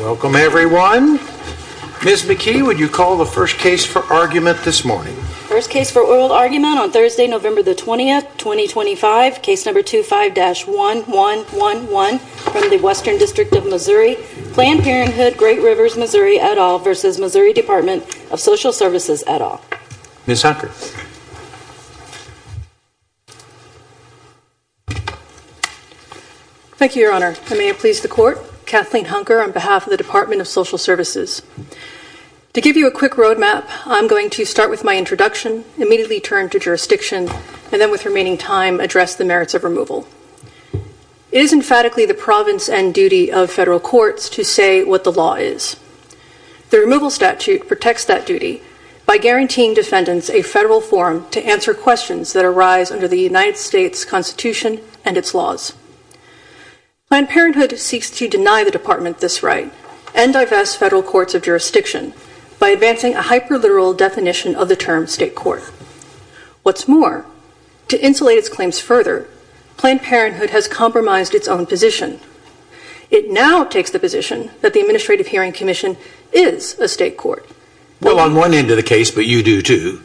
Welcome everyone. Ms. McKee, would you call the first case for argument this morning? First case for oral argument on Thursday, November 20, 2025. Case number 25-1111 from the Western District of Missouri. Planned Parenthood Great Rivers Missouri et al. v. MO Dept. of Social Services et al. Ms. Hunker. Thank you, Your Honor. I may have pleased the Court. Kathleen Hunker on behalf of the Department of Social Services. To give you a quick road map, I'm going to start with my introduction, immediately turn to jurisdiction, and then with remaining time address the merits of removal. It is emphatically the province and duty of federal courts to say what the law is. The removal statute protects that duty by guaranteeing defendants a federal forum to answer questions that arise under the United States Constitution and its laws. Planned Parenthood seeks to deny the Department this right and divest federal courts of jurisdiction by advancing a hyperliteral definition of the term state court. What's more, to insulate its claims further, Planned Parenthood has compromised its own position. It now takes the position that the Administrative Hearing Commission is a state court. Well, on one end of the case, but you do too.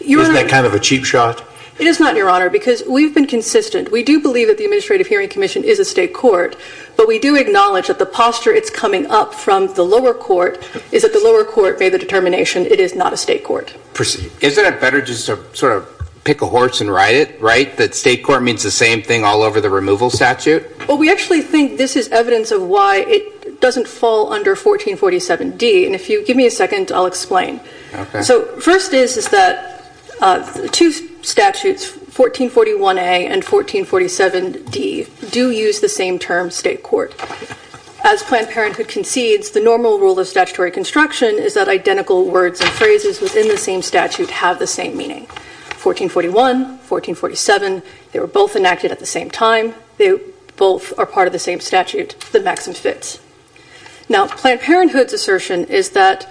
Isn't that kind of a cheap shot? It is not, Your Honor, because we've been consistent. We do believe that the Administrative Hearing Commission is a state court, but we do acknowledge that the posture it's coming up from the lower court is that the lower court made the determination it is not a state court. Isn't it better just to sort of pick a horse and ride it, right, that state court means the same thing all over the removal statute? Well, we actually think this is evidence of why it doesn't fall under 1447D, and if you give me a second, I'll explain. So first is that the two statutes, 1441A and 1447D, do use the same term state court. As Planned Parenthood concedes, the normal rule of statutory construction is that identical words and phrases within the same statute have the same meaning. 1441, 1447, they were both enacted at the same time, they both are part of the same statute, the maxim fits. Now, Planned Parenthood's assertion is that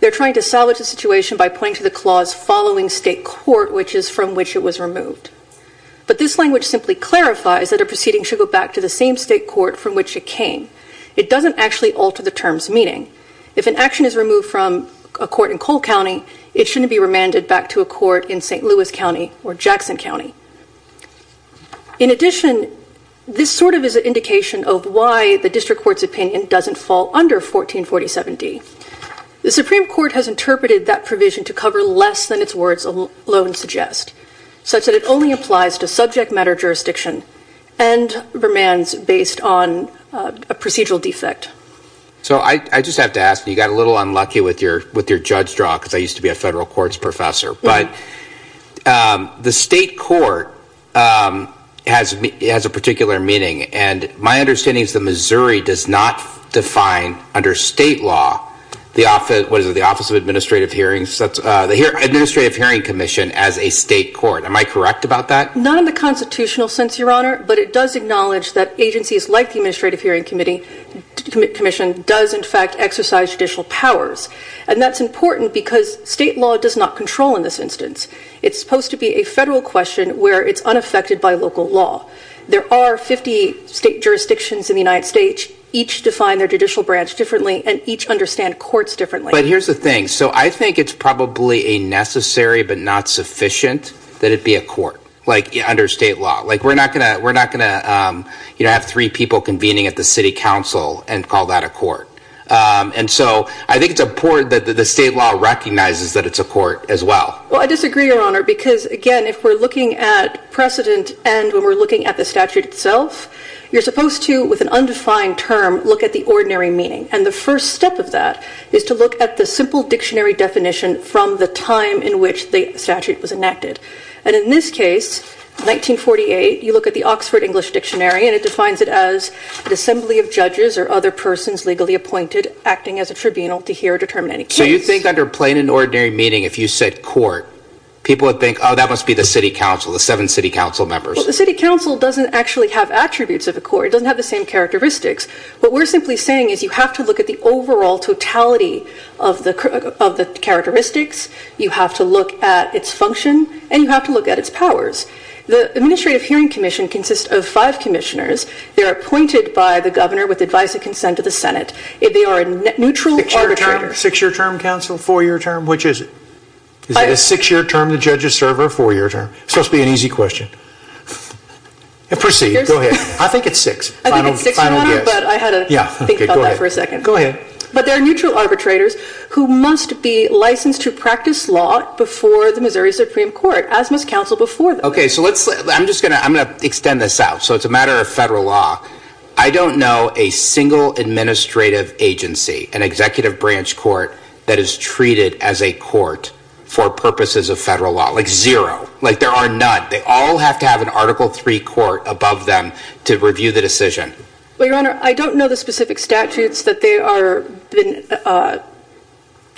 they're trying to salvage the situation by pointing to the clause following state court, which is from which it was removed. But this language simply clarifies that a proceeding should go back to the same state court from which it came. It doesn't actually alter the term's meaning. If an action is removed from a court in Cole County, it shouldn't be remanded back to a court in St. Louis County or Jackson County. In addition, this sort of is an indication of why the district court's opinion doesn't fall under 1447D. The Supreme Court has interpreted that provision to cover less than its words alone suggest, such that it only applies to subject matter jurisdiction and remands based on a procedural defect. So I just have to ask, you got a little unlucky with your judge draw because I used to be a federal courts professor, but the state court has a particular meaning and my understanding is that Missouri does not define under state law, what is it, the Office of Administrative Hearings, the Administrative Hearing Commission as a state court. Am I correct about that? Not in the constitutional sense, Your Honor, but it does acknowledge that agencies like the Administrative Hearing Commission does in fact exercise judicial powers. And that's important because state law does not control in this instance. It's supposed to be a federal question where it's unaffected by local law. There are 50 state jurisdictions in the United States. Each define their judicial branch differently and each understand courts differently. But here's the thing. So I think it's probably a necessary but not sufficient that it be a court, like under state law. Like we're not going to have three people convening at the city council and call that a court. And so I think it's important that the state law recognizes that it's a court as well. Well, I disagree, Your Honor, because again, if we're looking at precedent and when we're looking at the statute itself, you're supposed to, with an undefined term, look at the ordinary meaning. And the first step of that is to look at the simple dictionary definition from the time in which the statute was enacted. And in this case, 1948, you look at the Oxford English Dictionary, and it defines it as an assembly of judges or other persons legally appointed acting as a tribunal to hear or determine any case. So you think under plain and ordinary meaning, if you said court, people would think, oh, that must be the city council, the seven city council members. Well, the city council doesn't actually have attributes of a court. It doesn't have the same characteristics. What we're simply saying is you have to look at the overall totality of the characteristics. You have to look at its function. And you have to look at its powers. The Administrative Hearing Commission consists of five commissioners. They are appointed by the governor with advice and consent of the Senate. They are a neutral arbitrator. Six-year term, counsel? Four-year term? Which is it? Is it a six-year term to judge a server or a four-year term? Supposed to be an easy question. Proceed. Go ahead. I think it's six. I think it's six-year, but I had to think about that for a second. Go ahead. But there are neutral arbitrators who must be licensed to practice law before the Missouri Supreme Court, as must counsel before them. Okay, so let's – I'm just going to – I'm going to extend this out. So it's a matter of federal law. I don't know a single administrative agency, an executive branch court, that is treated as a court for purposes of federal law. Like, zero. Like, there are none. They all have to have an Article III court above them to review the decision. Well, Your Honor, I don't know the specific statutes that they are –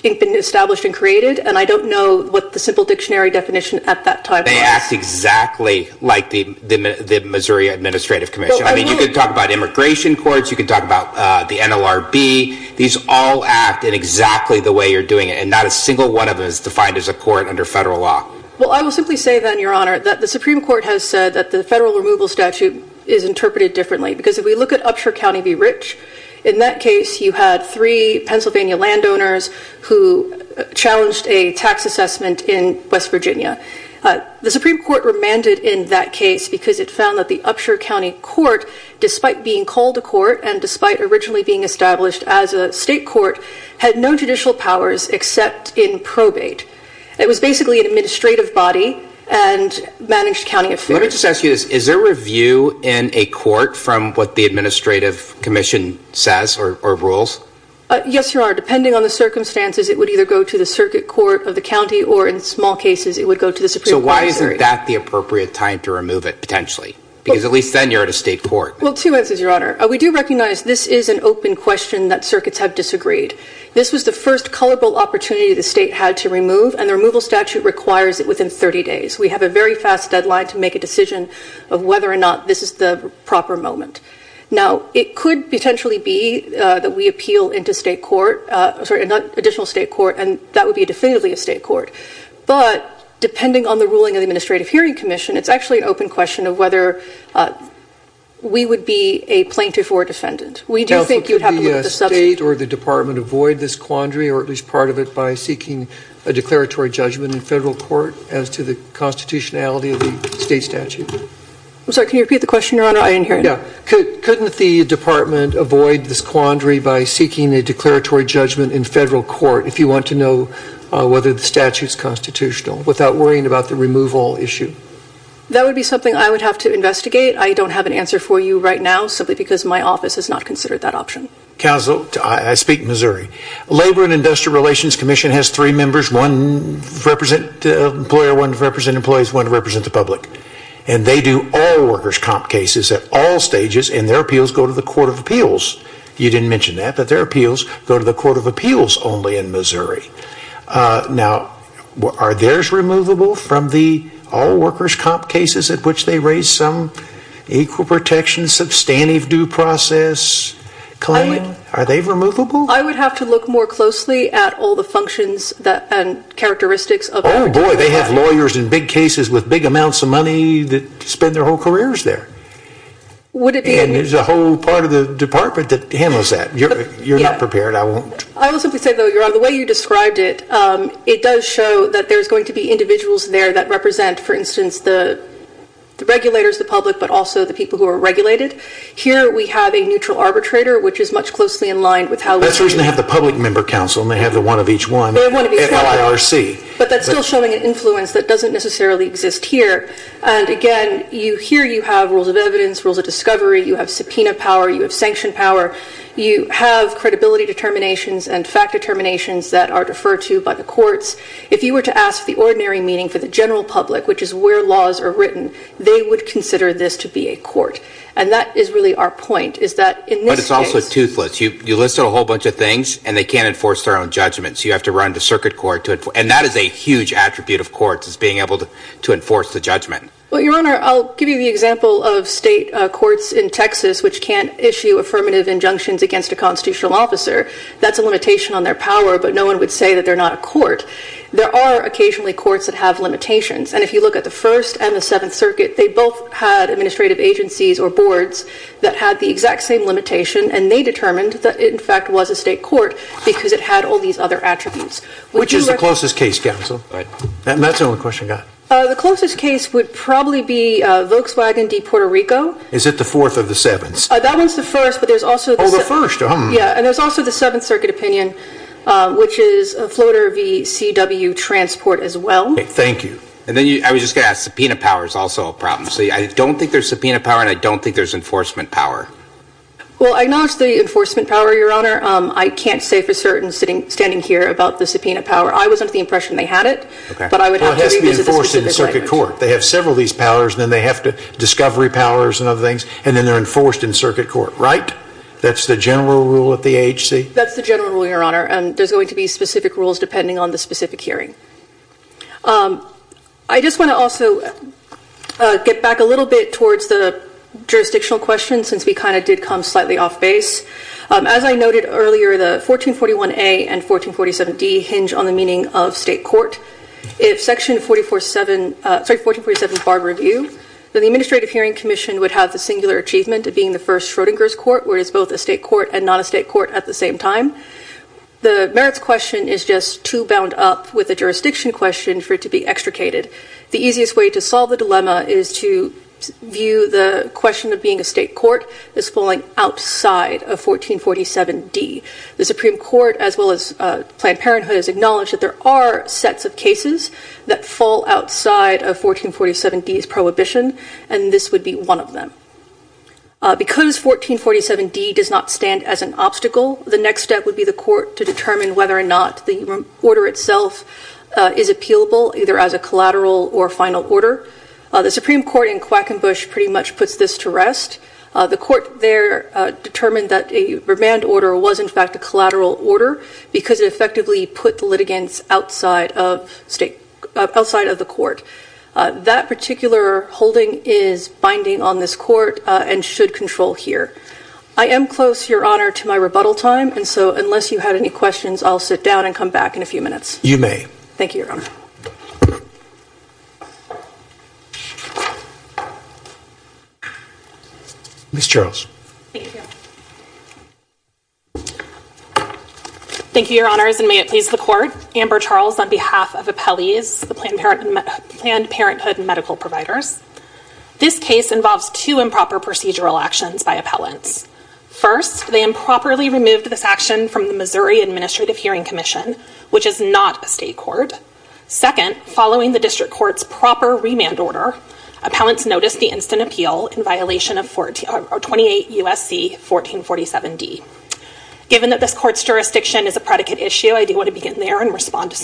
have been established and created, and I don't know what the simple dictionary definition at that time was. They act exactly like the Missouri Administrative Commission. I mean, you could talk about immigration courts. You could talk about the NLRB. These all act in exactly the way you're doing it, and not a single one of them is defined as a court under federal law. Well, I will simply say then, Your Honor, that the Supreme Court has said that the federal removal statute is interpreted differently, because if we look at Upshur County v. Rich, in that case you had three Pennsylvania landowners who challenged a tax assessment in West Virginia. The Supreme Court remanded in that case because it found that the Upshur County court, despite being called a court and despite originally being established as a state court, had no judicial powers except in probate. It was basically an administrative body and managed county affairs. Let me just ask you this. Is there review in a court from what the Administrative Commission says or rules? Yes, Your Honor. Depending on the circumstances, it would either go to the circuit court of the county, or in small cases it would go to the Supreme Court of Missouri. So why isn't that the appropriate time to remove it, potentially? Because at least then you're at a state court. Well, two answers, Your Honor. We do recognize this is an open question that circuits have disagreed. This was the first culpable opportunity the state had to remove, and the removal statute requires it within 30 days. We have a very fast deadline to make a decision of whether or not this is the proper moment. Now, it could potentially be that we appeal into additional state court, and that would be definitively a state court. But depending on the ruling of the Administrative Hearing Commission, it's actually an open question of whether we would be a plaintiff or a defendant. Counsel, could the state or the department avoid this quandary, or at least part of it, by seeking a declaratory judgment in federal court as to the constitutionality of the state statute? I'm sorry, can you repeat the question, Your Honor? I didn't hear it. Yeah. Couldn't the department avoid this quandary by seeking a declaratory judgment in federal court if you want to know whether the statute is constitutional, without worrying about the removal issue? That would be something I would have to investigate. I don't have an answer for you right now, simply because my office has not considered that option. Counsel, I speak Missouri. Labor and Industrial Relations Commission has three members, one to represent the employer, one to represent employees, one to represent the public. And they do all workers' comp cases at all stages, and their appeals go to the Court of Appeals. You didn't mention that, but their appeals go to the Court of Appeals only in Missouri. Now, are theirs removable from the all workers' comp cases at which they raise some equal protection, substantive due process claim? Are they removable? I would have to look more closely at all the functions and characteristics. Oh, boy, they have lawyers in big cases with big amounts of money that spend their whole careers there. And there's a whole part of the department that handles that. You're not prepared, I won't. I will simply say, though, Your Honor, the way you described it, it does show that there's going to be individuals there that represent, for instance, the regulators, the public, but also the people who are regulated. Here we have a neutral arbitrator, which is much closely in line with how we do it. That's the reason they have the public member counsel, and they have the one of each one at LIRC. But that's still showing an influence that doesn't necessarily exist here. And, again, here you have rules of evidence, rules of discovery. You have subpoena power. You have sanction power. You have credibility determinations and fact determinations that are deferred to by the courts. If you were to ask the ordinary meeting for the general public, which is where laws are written, they would consider this to be a court. And that is really our point, is that in this case. But it's also toothless. You listed a whole bunch of things, and they can't enforce their own judgments. You have to run the circuit court, and that is a huge attribute of courts, is being able to enforce the judgment. Well, Your Honor, I'll give you the example of state courts in Texas, which can't issue affirmative injunctions against a constitutional officer. That's a limitation on their power, but no one would say that they're not a court. There are occasionally courts that have limitations. And if you look at the First and the Seventh Circuit, they both had administrative agencies or boards that had the exact same limitation, and they determined that it, in fact, was a state court because it had all these other attributes. Which is the closest case, counsel? That's the only question I've got. The closest case would probably be Volkswagen v. Puerto Rico. Is it the Fourth or the Seventh? That one's the First, but there's also the Seventh. Oh, the First. Yeah, and there's also the Seventh Circuit opinion, which is Floater v. CW Transport as well. Thank you. And then I was just going to ask, subpoena power is also a problem. See, I don't think there's subpoena power, and I don't think there's enforcement power. Well, I acknowledge the enforcement power, Your Honor. I can't say for certain, standing here, about the subpoena power. I was under the impression they had it. But I would have to revisit the specific language. Well, it has to be enforced in the circuit court. They have several of these powers, and then they have discovery powers and other things, and then they're enforced in circuit court, right? That's the general rule at the AHC? That's the general rule, Your Honor, and there's going to be specific rules depending on the specific hearing. I just want to also get back a little bit towards the jurisdictional question, since we kind of did come slightly off base. As I noted earlier, the 1441A and 1447D hinge on the meaning of state court. If Section 1447 bar review, then the Administrative Hearing Commission would have the singular achievement of being the first Schrodinger's court, where it is both a state court and not a state court at the same time. The merits question is just too bound up with the jurisdiction question for it to be extricated. The easiest way to solve the dilemma is to view the question of being a state court as falling outside of 1447D. The Supreme Court, as well as Planned Parenthood, has acknowledged that there are sets of cases that fall outside of 1447D's prohibition, and this would be one of them. Because 1447D does not stand as an obstacle, the next step would be the court to determine whether or not the order itself is appealable, either as a collateral or final order. The Supreme Court in Quackenbush pretty much puts this to rest. The court there determined that a remand order was in fact a collateral order because it effectively put the litigants outside of the court. That particular holding is binding on this court and should control here. I am close, Your Honor, to my rebuttal time, and so unless you have any questions, I'll sit down and come back in a few minutes. You may. Thank you, Your Honor. Ms. Charles. Thank you. Thank you, Your Honors, and may it please the court. Amber Charles on behalf of Appellees, the Planned Parenthood medical providers. This case involves two improper procedural actions by appellants. First, they improperly removed this action from the Missouri Administrative Hearing Commission, which is not a state court. Second, following the district court's proper remand order, appellants noticed the instant appeal in violation of 28 U.S.C. 1447D. Given that this court's jurisdiction is a predicate issue, I do want to begin there and respond to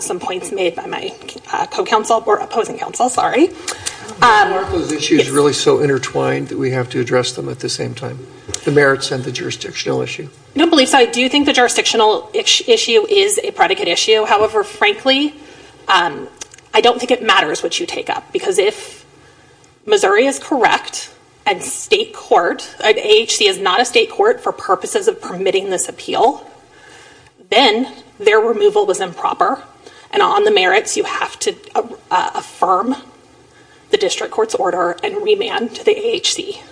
some points made by my opposing counsel. Are those issues really so intertwined that we have to address them at the same time, the merits and the jurisdictional issue? I don't believe so. I do think the jurisdictional issue is a predicate issue. However, frankly, I don't think it matters what you take up because if Missouri is correct and AHC is not a state court for purposes of permitting this appeal, then their removal was improper and on the merits you have to affirm the district court's order and remand to the AHC.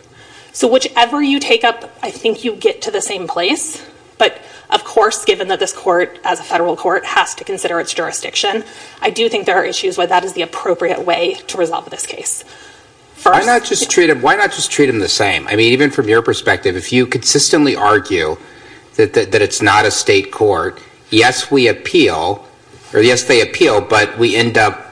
So whichever you take up, I think you get to the same place. But of course, given that this court, as a federal court, has to consider its jurisdiction, I do think there are issues where that is the appropriate way to resolve this case. Why not just treat them the same? I mean, even from your perspective, if you consistently argue that it's not a state court, yes, we appeal, or yes, they appeal, but we end up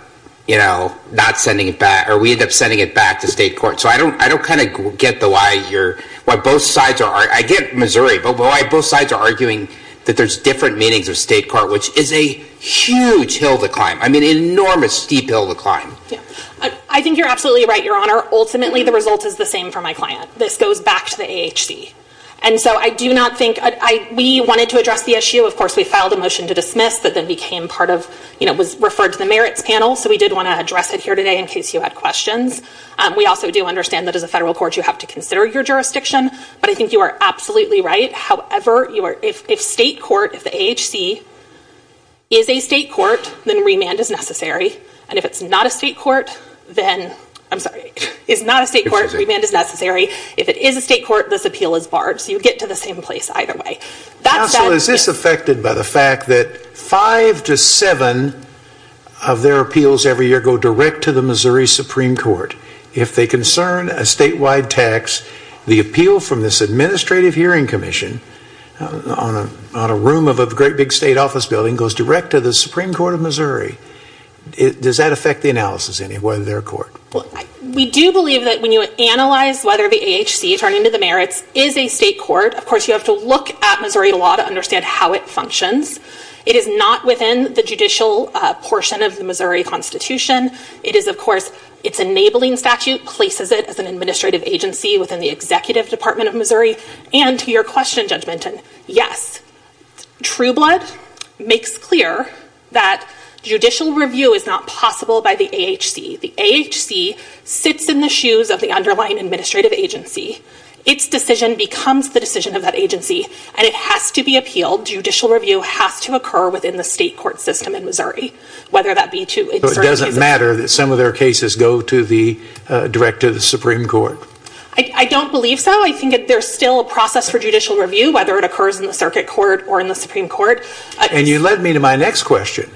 not sending it back or we end up sending it back to state court. So I don't kind of get why both sides are arguing. I get Missouri, but why both sides are arguing that there's different meanings of state court, which is a huge hill to climb, I mean an enormous steep hill to climb. I think you're absolutely right, Your Honor. Ultimately, the result is the same for my client. This goes back to the AHC. And so I do not think, we wanted to address the issue. Of course, we filed a motion to dismiss that then became part of, you know, was referred to the merits panel, so we did want to address it here today in case you had questions. We also do understand that as a federal court you have to consider your jurisdiction, but I think you are absolutely right. However, if state court, if the AHC is a state court, then remand is necessary. And if it's not a state court, then, I'm sorry, is not a state court, remand is necessary. If it is a state court, this appeal is barred. So you get to the same place either way. Counsel, is this affected by the fact that five to seven of their appeals every year go direct to the Missouri Supreme Court? If they concern a statewide tax, the appeal from this administrative hearing commission on a room of a great big state office building goes direct to the Supreme Court of Missouri. Does that affect the analysis anyway of their court? We do believe that when you analyze whether the AHC, turning to the merits, is a state court, of course, you have to look at Missouri law to understand how it functions. It is not within the judicial portion of the Missouri Constitution. It is, of course, its enabling statute places it as an administrative agency within the executive department of Missouri. And to your question, Judge Minton, yes. Trueblood makes clear that judicial review is not possible by the AHC. The AHC sits in the shoes of the underlying administrative agency. Its decision becomes the decision of that agency, and it has to be appealed. Judicial review has to occur within the state court system in Missouri, whether that be to... So it doesn't matter that some of their cases go to the director of the Supreme Court? I don't believe so. I think that there's still a process for judicial review, whether it occurs in the circuit court or in the Supreme Court. And you led me to my next question,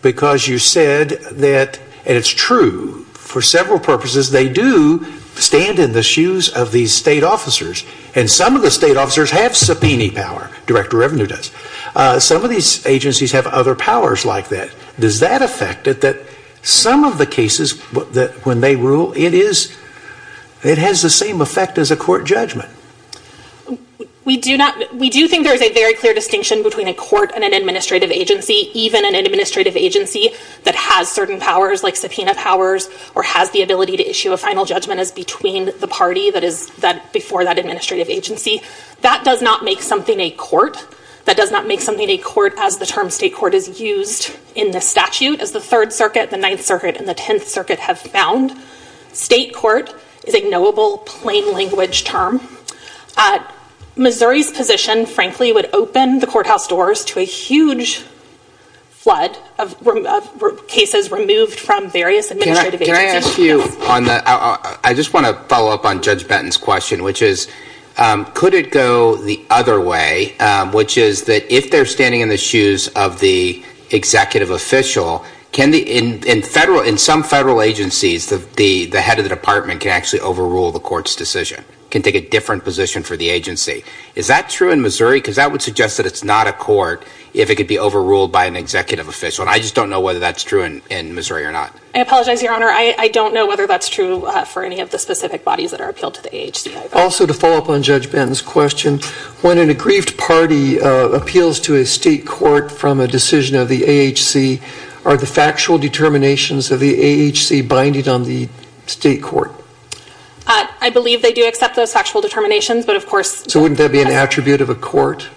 because you said that, and it's true, for several purposes they do stand in the shoes of these state officers. And some of the state officers have subpoena power. Director Revenue does. Some of these agencies have other powers like that. Does that affect it that some of the cases when they rule, it has the same effect as a court judgment? We do think there's a very clear distinction between a court and an administrative agency, even an administrative agency that has certain powers like subpoena powers or has the ability to issue a final judgment as between the party that is before that administrative agency. That does not make something a court. State court, as the term state court is used in the statute, as the Third Circuit, the Ninth Circuit, and the Tenth Circuit have found, state court is a knowable plain language term. Missouri's position, frankly, would open the courthouse doors to a huge flood of cases removed from various administrative agencies. Can I ask you, I just want to follow up on Judge Benton's question, which is could it go the other way, which is that if they're standing in the shoes of the executive official, in some federal agencies, the head of the department can actually overrule the court's decision, can take a different position for the agency. Is that true in Missouri? Because that would suggest that it's not a court if it could be overruled by an executive official. And I just don't know whether that's true in Missouri or not. I apologize, Your Honor. I don't know whether that's true for any of the specific bodies that are appealed to the AHC. Also, to follow up on Judge Benton's question, when an aggrieved party appeals to a state court from a decision of the AHC, are the factual determinations of the AHC binded on the state court? I believe they do accept those factual determinations, but of course. So wouldn't that be an attribute of a court?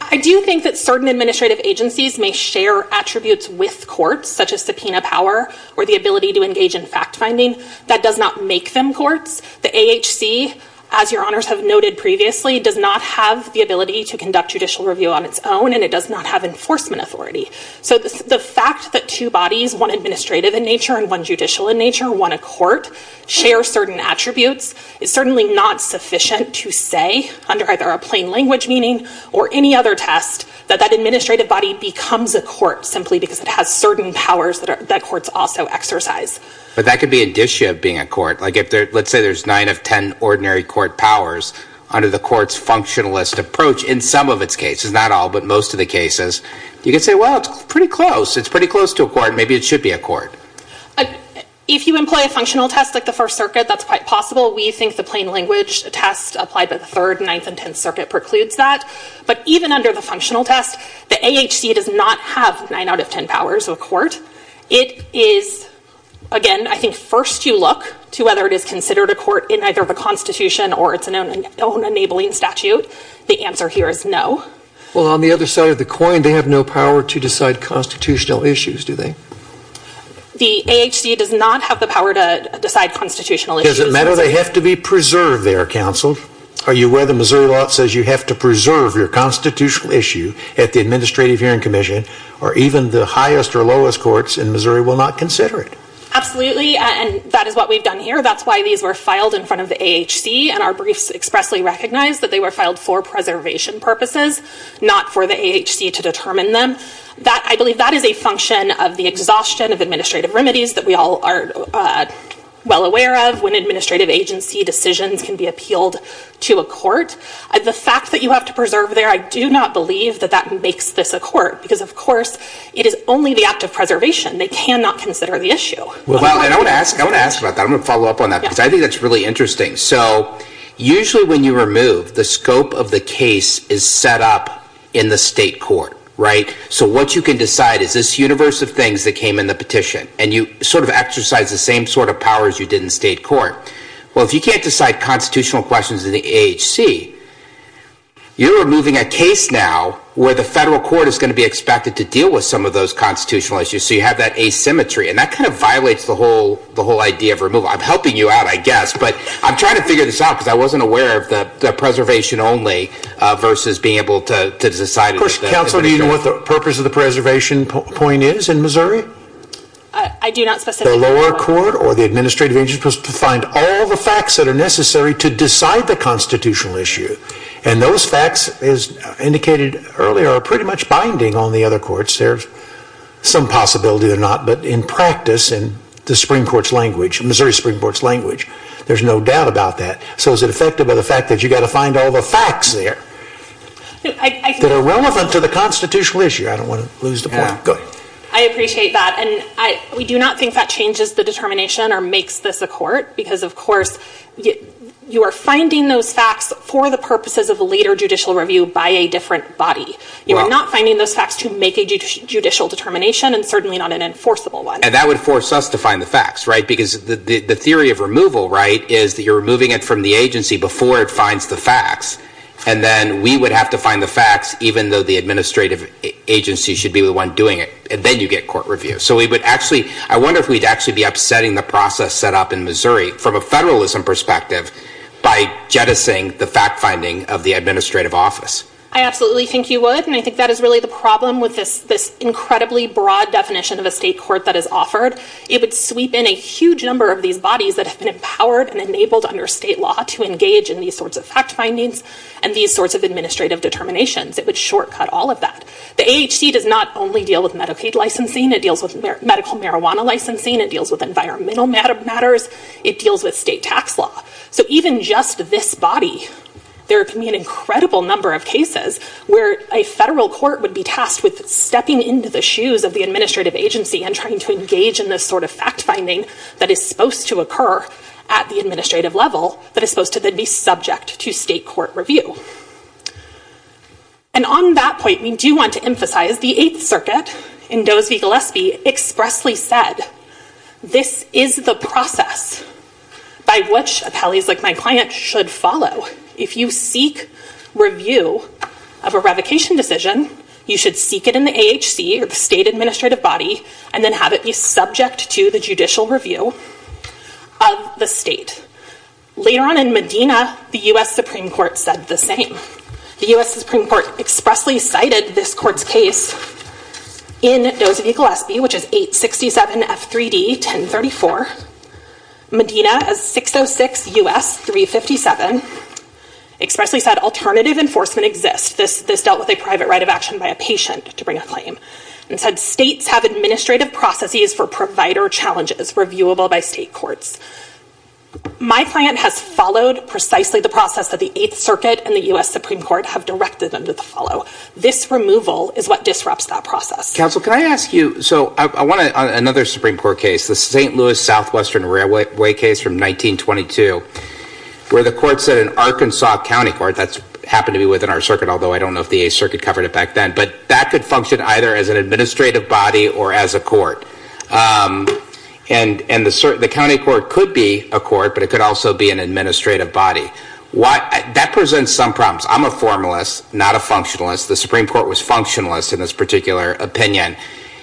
I do think that certain administrative agencies may share attributes with courts, such as subpoena power or the ability to engage in fact-finding. That does not make them courts. The AHC, as Your Honors have noted previously, does not have the ability to conduct judicial review on its own, and it does not have enforcement authority. So the fact that two bodies, one administrative in nature and one judicial in nature, want to court, share certain attributes, is certainly not sufficient to say, under either a plain language meaning or any other test, that that administrative body becomes a court simply because it has certain powers that courts also exercise. But that could be an issue of being a court. Let's say there's nine of ten ordinary court powers under the court's functionalist approach in some of its cases, not all, but most of the cases. You could say, well, it's pretty close. It's pretty close to a court. Maybe it should be a court. If you employ a functional test like the First Circuit, that's quite possible. We think the plain language test applied by the Third, Ninth, and Tenth Circuit precludes that. But even under the functional test, the AHC does not have nine out of ten powers of a court. It is, again, I think first you look to whether it is considered a court in either the Constitution or its own enabling statute. The answer here is no. Well, on the other side of the coin, they have no power to decide constitutional issues, do they? The AHC does not have the power to decide constitutional issues. Does it matter? They have to be preserved there, counsel. Are you aware the Missouri law says you have to preserve your constitutional issue at the Administrative Hearing Commission, or even the highest or lowest courts in Missouri will not consider it? Absolutely, and that is what we've done here. That's why these were filed in front of the AHC, and our briefs expressly recognize that they were filed for preservation purposes, not for the AHC to determine them. I believe that is a function of the exhaustion of administrative remedies that we all are well aware of when administrative agency decisions can be appealed to a court. The fact that you have to preserve there, I do not believe that that makes this a court because, of course, it is only the act of preservation. They cannot consider the issue. And I want to ask about that. I'm going to follow up on that because I think that's really interesting. So usually when you remove, the scope of the case is set up in the state court, right? So what you can decide is this universe of things that came in the petition, and you sort of exercise the same sort of powers you did in state court. Well, if you can't decide constitutional questions in the AHC, you're removing a case now where the federal court is going to be expected to deal with some of those constitutional issues. So you have that asymmetry, and that kind of violates the whole idea of removal. I'm helping you out, I guess, but I'm trying to figure this out because I wasn't aware of the preservation only versus being able to decide. Of course, Counselor, do you know what the purpose of the preservation point is in Missouri? I do not specifically know. The lower court or the administrative agency is supposed to find all the facts that are necessary to decide the constitutional issue. And those facts, as indicated earlier, are pretty much binding on the other courts. There's some possibility they're not, but in practice, in the Missouri Supreme Court's language, there's no doubt about that. So is it effective by the fact that you've got to find all the facts there that are relevant to the constitutional issue? I don't want to lose the point. Go ahead. I appreciate that, and we do not think that changes the determination or makes this a court because, of course, you are finding those facts for the purposes of a later judicial review by a different body. You are not finding those facts to make a judicial determination and certainly not an enforceable one. And that would force us to find the facts, right? Because the theory of removal, right, is that you're removing it from the agency before it finds the facts. And then we would have to find the facts, even though the administrative agency should be the one doing it. And then you get court review. So I wonder if we'd actually be upsetting the process set up in Missouri from a federalism perspective by jettisoning the fact-finding of the administrative office. I absolutely think you would, and I think that is really the problem with this incredibly broad definition of a state court that is offered. It would sweep in a huge number of these bodies that have been empowered and enabled under state law to engage in these sorts of fact-findings and these sorts of administrative determinations. It would shortcut all of that. The AHC does not only deal with Medicaid licensing. It deals with medical marijuana licensing. It deals with environmental matters. It deals with state tax law. So even just this body, there can be an incredible number of cases where a federal court would be tasked with stepping into the shoes of the administrative agency and trying to engage in this sort of fact-finding that is supposed to occur at the administrative level that is supposed to then be subject to state court review. And on that point, we do want to emphasize the Eighth Circuit, in Doe's v. Gillespie, expressly said, this is the process by which appellees like my client should follow. If you seek review of a revocation decision, you should seek it in the AHC or the state administrative body and then have it be subject to the judicial review of the state. Later on in Medina, the U.S. Supreme Court said the same. The U.S. Supreme Court expressly cited this court's case in Doe's v. Gillespie, which is 867 F3D 1034. Medina, as 606 U.S. 357, expressly said alternative enforcement exists. This dealt with a private right of action by a patient to bring a claim. It said states have administrative processes for provider challenges reviewable by state courts. My client has followed precisely the process that the Eighth Circuit and the U.S. Supreme Court have directed them to follow. This removal is what disrupts that process. Counsel, can I ask you, so I want another Supreme Court case, the St. Louis Southwestern Railway case from 1922, where the court said an Arkansas county court, that happened to be within our circuit, although I don't know if the Eighth Circuit covered it back then, but that could function either as an administrative body or as a court. And the county court could be a court, but it could also be an administrative body. That presents some problems. I'm a formalist, not a functionalist. The Supreme Court was functionalist in this particular opinion.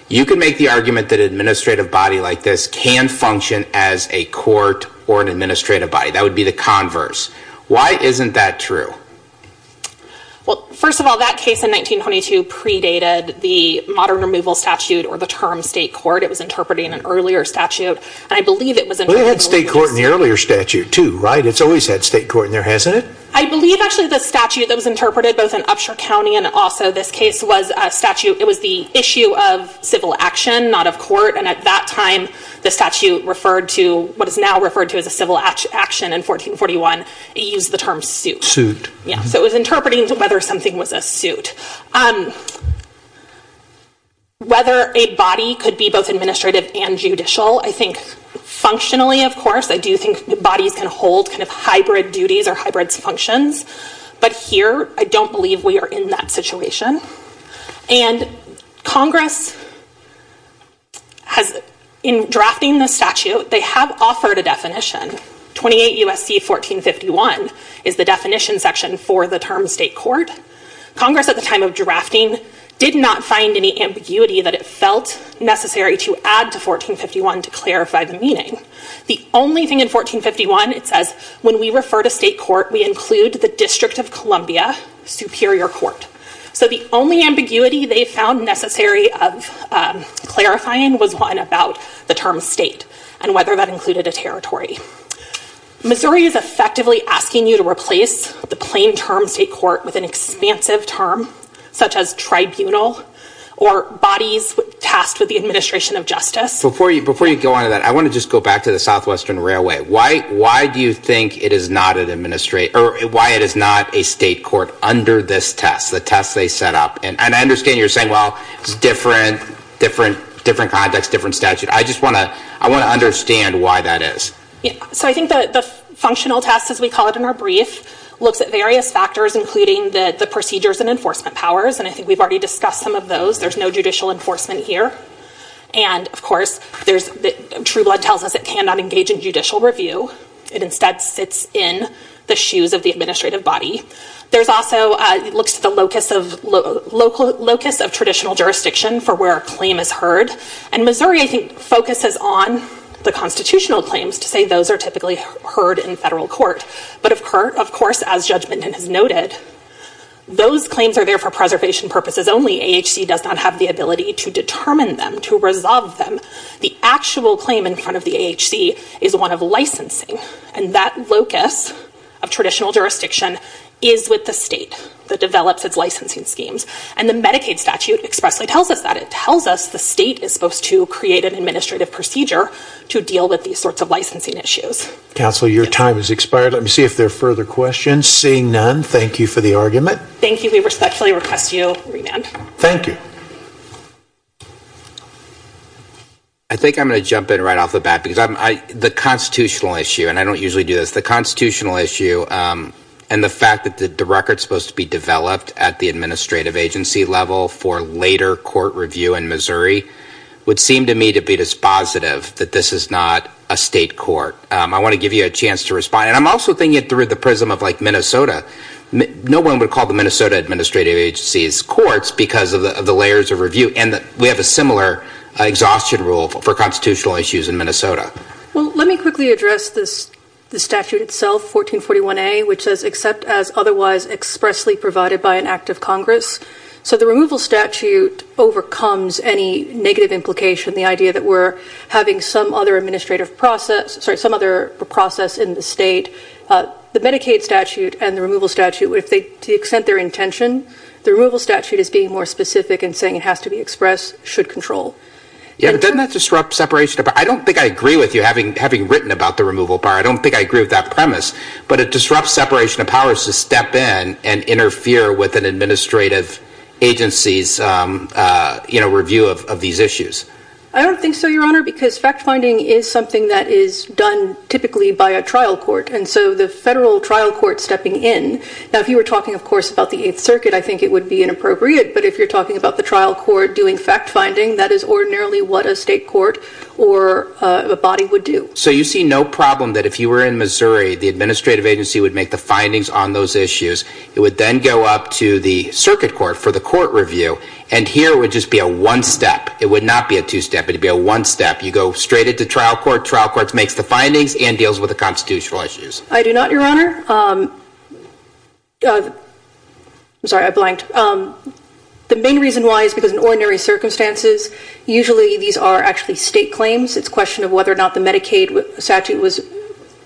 You can make the argument that an administrative body like this can function as a court or an administrative body. That would be the converse. Why isn't that true? Well, first of all, that case in 1922 predated the modern removal statute or the term state court. It was interpreting an earlier statute. I believe it was... They had state court in the earlier statute, too, right? It's always had state court in there, hasn't it? I believe, actually, the statute that was interpreted, both in Upshur County and also this case, was the issue of civil action, not of court. And at that time, the statute referred to what is now referred to as a civil action in 1441. It used the term suit. Suit. Yeah, so it was interpreting whether something was a suit. Whether a body could be both administrative and judicial, I think functionally, of course, I do think bodies can hold kind of hybrid duties or hybrid functions. But here, I don't believe we are in that situation. And Congress has, in drafting the statute, they have offered a definition. 28 U.S.C. 1451 is the definition section for the term state court. Congress, at the time of drafting, did not find any ambiguity that it felt necessary to add to 1451 to clarify the meaning. The only thing in 1451, it says, when we refer to state court, we include the District of Columbia Superior Court. So the only ambiguity they found necessary of clarifying was one about the term state and whether that included a territory. Missouri is effectively asking you to replace the plain term state court with an expansive term such as tribunal or bodies tasked with the administration of justice. Before you go on to that, I want to just go back to the Southwestern Railway. Why do you think it is not an administrative or why it is not a state court under this test, the test they set up? And I understand you're saying, well, it's different context, different statute. I just want to understand why that is. So I think the functional test, as we call it in our brief, looks at various factors, including the procedures and enforcement powers. And I think we've already discussed some of those. There's no judicial enforcement here. And, of course, Trueblood tells us it cannot engage in judicial review. It instead sits in the shoes of the administrative body. There's also the locus of traditional jurisdiction for where a claim is heard. And Missouri, I think, focuses on the constitutional claims to say those are typically heard in federal court. But, of course, as Judge Menden has noted, those claims are there for preservation purposes only. AHC does not have the ability to determine them, to resolve them. The actual claim in front of the AHC is one of licensing. And that locus of traditional jurisdiction is with the state that develops its licensing schemes. And the Medicaid statute expressly tells us that. It tells us the state is supposed to create an administrative procedure to deal with these sorts of licensing issues. Counsel, your time has expired. Let me see if there are further questions. Seeing none, thank you for the argument. Thank you. We respectfully request you remand. Thank you. I think I'm going to jump in right off the bat because the constitutional issue, and I don't usually do this, the constitutional issue and the fact that the record is supposed to be developed at the administrative agency level for later court review in Missouri would seem to me to be dispositive that this is not a state court. I want to give you a chance to respond. And I'm also thinking it through the prism of, like, Minnesota. No one would call the Minnesota administrative agency's courts because of the layers of review. And we have a similar exhaustion rule for constitutional issues in Minnesota. Well, let me quickly address the statute itself, 1441A, which says, except as otherwise expressly provided by an act of Congress. So the removal statute overcomes any negative implication, the idea that we're having some other administrative process, sorry, some other process in the state. The Medicaid statute and the removal statute, if they, to the extent their intention, the removal statute is being more specific in saying it has to be expressed, should control. Yeah, but doesn't that disrupt separation of powers? I don't think I agree with you, having written about the removal bar. I don't think I agree with that premise. But it disrupts separation of powers to step in and interfere with an administrative agency's review of these issues. I don't think so, Your Honor, because fact-finding is something that is done typically by a trial court. And so the federal trial court stepping in, now, if you were talking, of course, about the Eighth Circuit, I think it would be inappropriate. But if you're talking about the trial court doing fact-finding, that is ordinarily what a state court or a body would do. So you see no problem that if you were in Missouri, the administrative agency would make the findings on those issues that would then go up to the circuit court for the court review. And here, it would just be a one-step. It would not be a two-step. It would be a one-step. You go straight into trial court. Trial court makes the findings and deals with the constitutional issues. I do not, Your Honor. I'm sorry, I blanked. The main reason why is because in ordinary circumstances, usually these are actually state claims. It's a question of whether or not the Medicaid statute was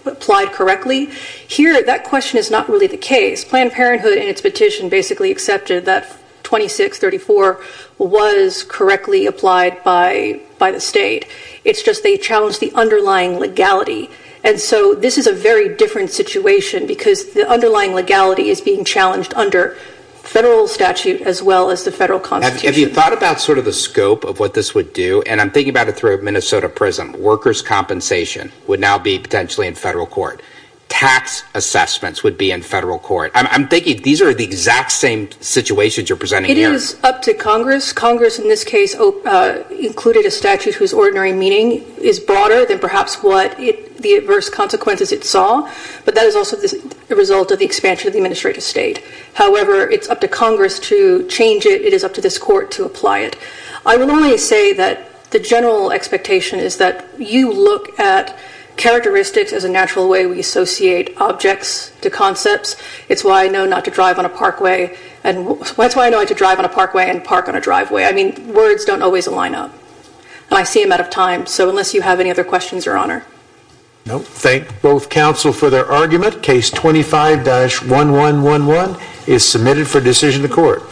applied correctly. Here, that question is not really the case. Planned Parenthood in its petition basically accepted that 2634 was correctly applied by the state. It's just they challenged the underlying legality. And so this is a very different situation because the underlying legality is being challenged under federal statute as well as the federal constitution. Have you thought about sort of the scope of what this would do? And I'm thinking about it through a Minnesota prism. Workers' compensation would now be potentially in federal court. Tax assessments would be in federal court. I'm thinking these are the exact same situations you're presenting here. It is up to Congress. Congress in this case included a statute whose ordinary meaning is broader than perhaps what the adverse consequences it saw, but that is also the result of the expansion of the administrative state. However, it's up to Congress to change it. It is up to this court to apply it. I will only say that the general expectation is that you look at characteristics as a natural way we associate objects to concepts. It's why I know not to drive on a parkway. And that's why I know not to drive on a parkway and park on a driveway. I mean, words don't always line up. And I see I'm out of time. So unless you have any other questions, Your Honor. No. Thank both counsel for their argument. Case 25-1111 is submitted for decision of the court.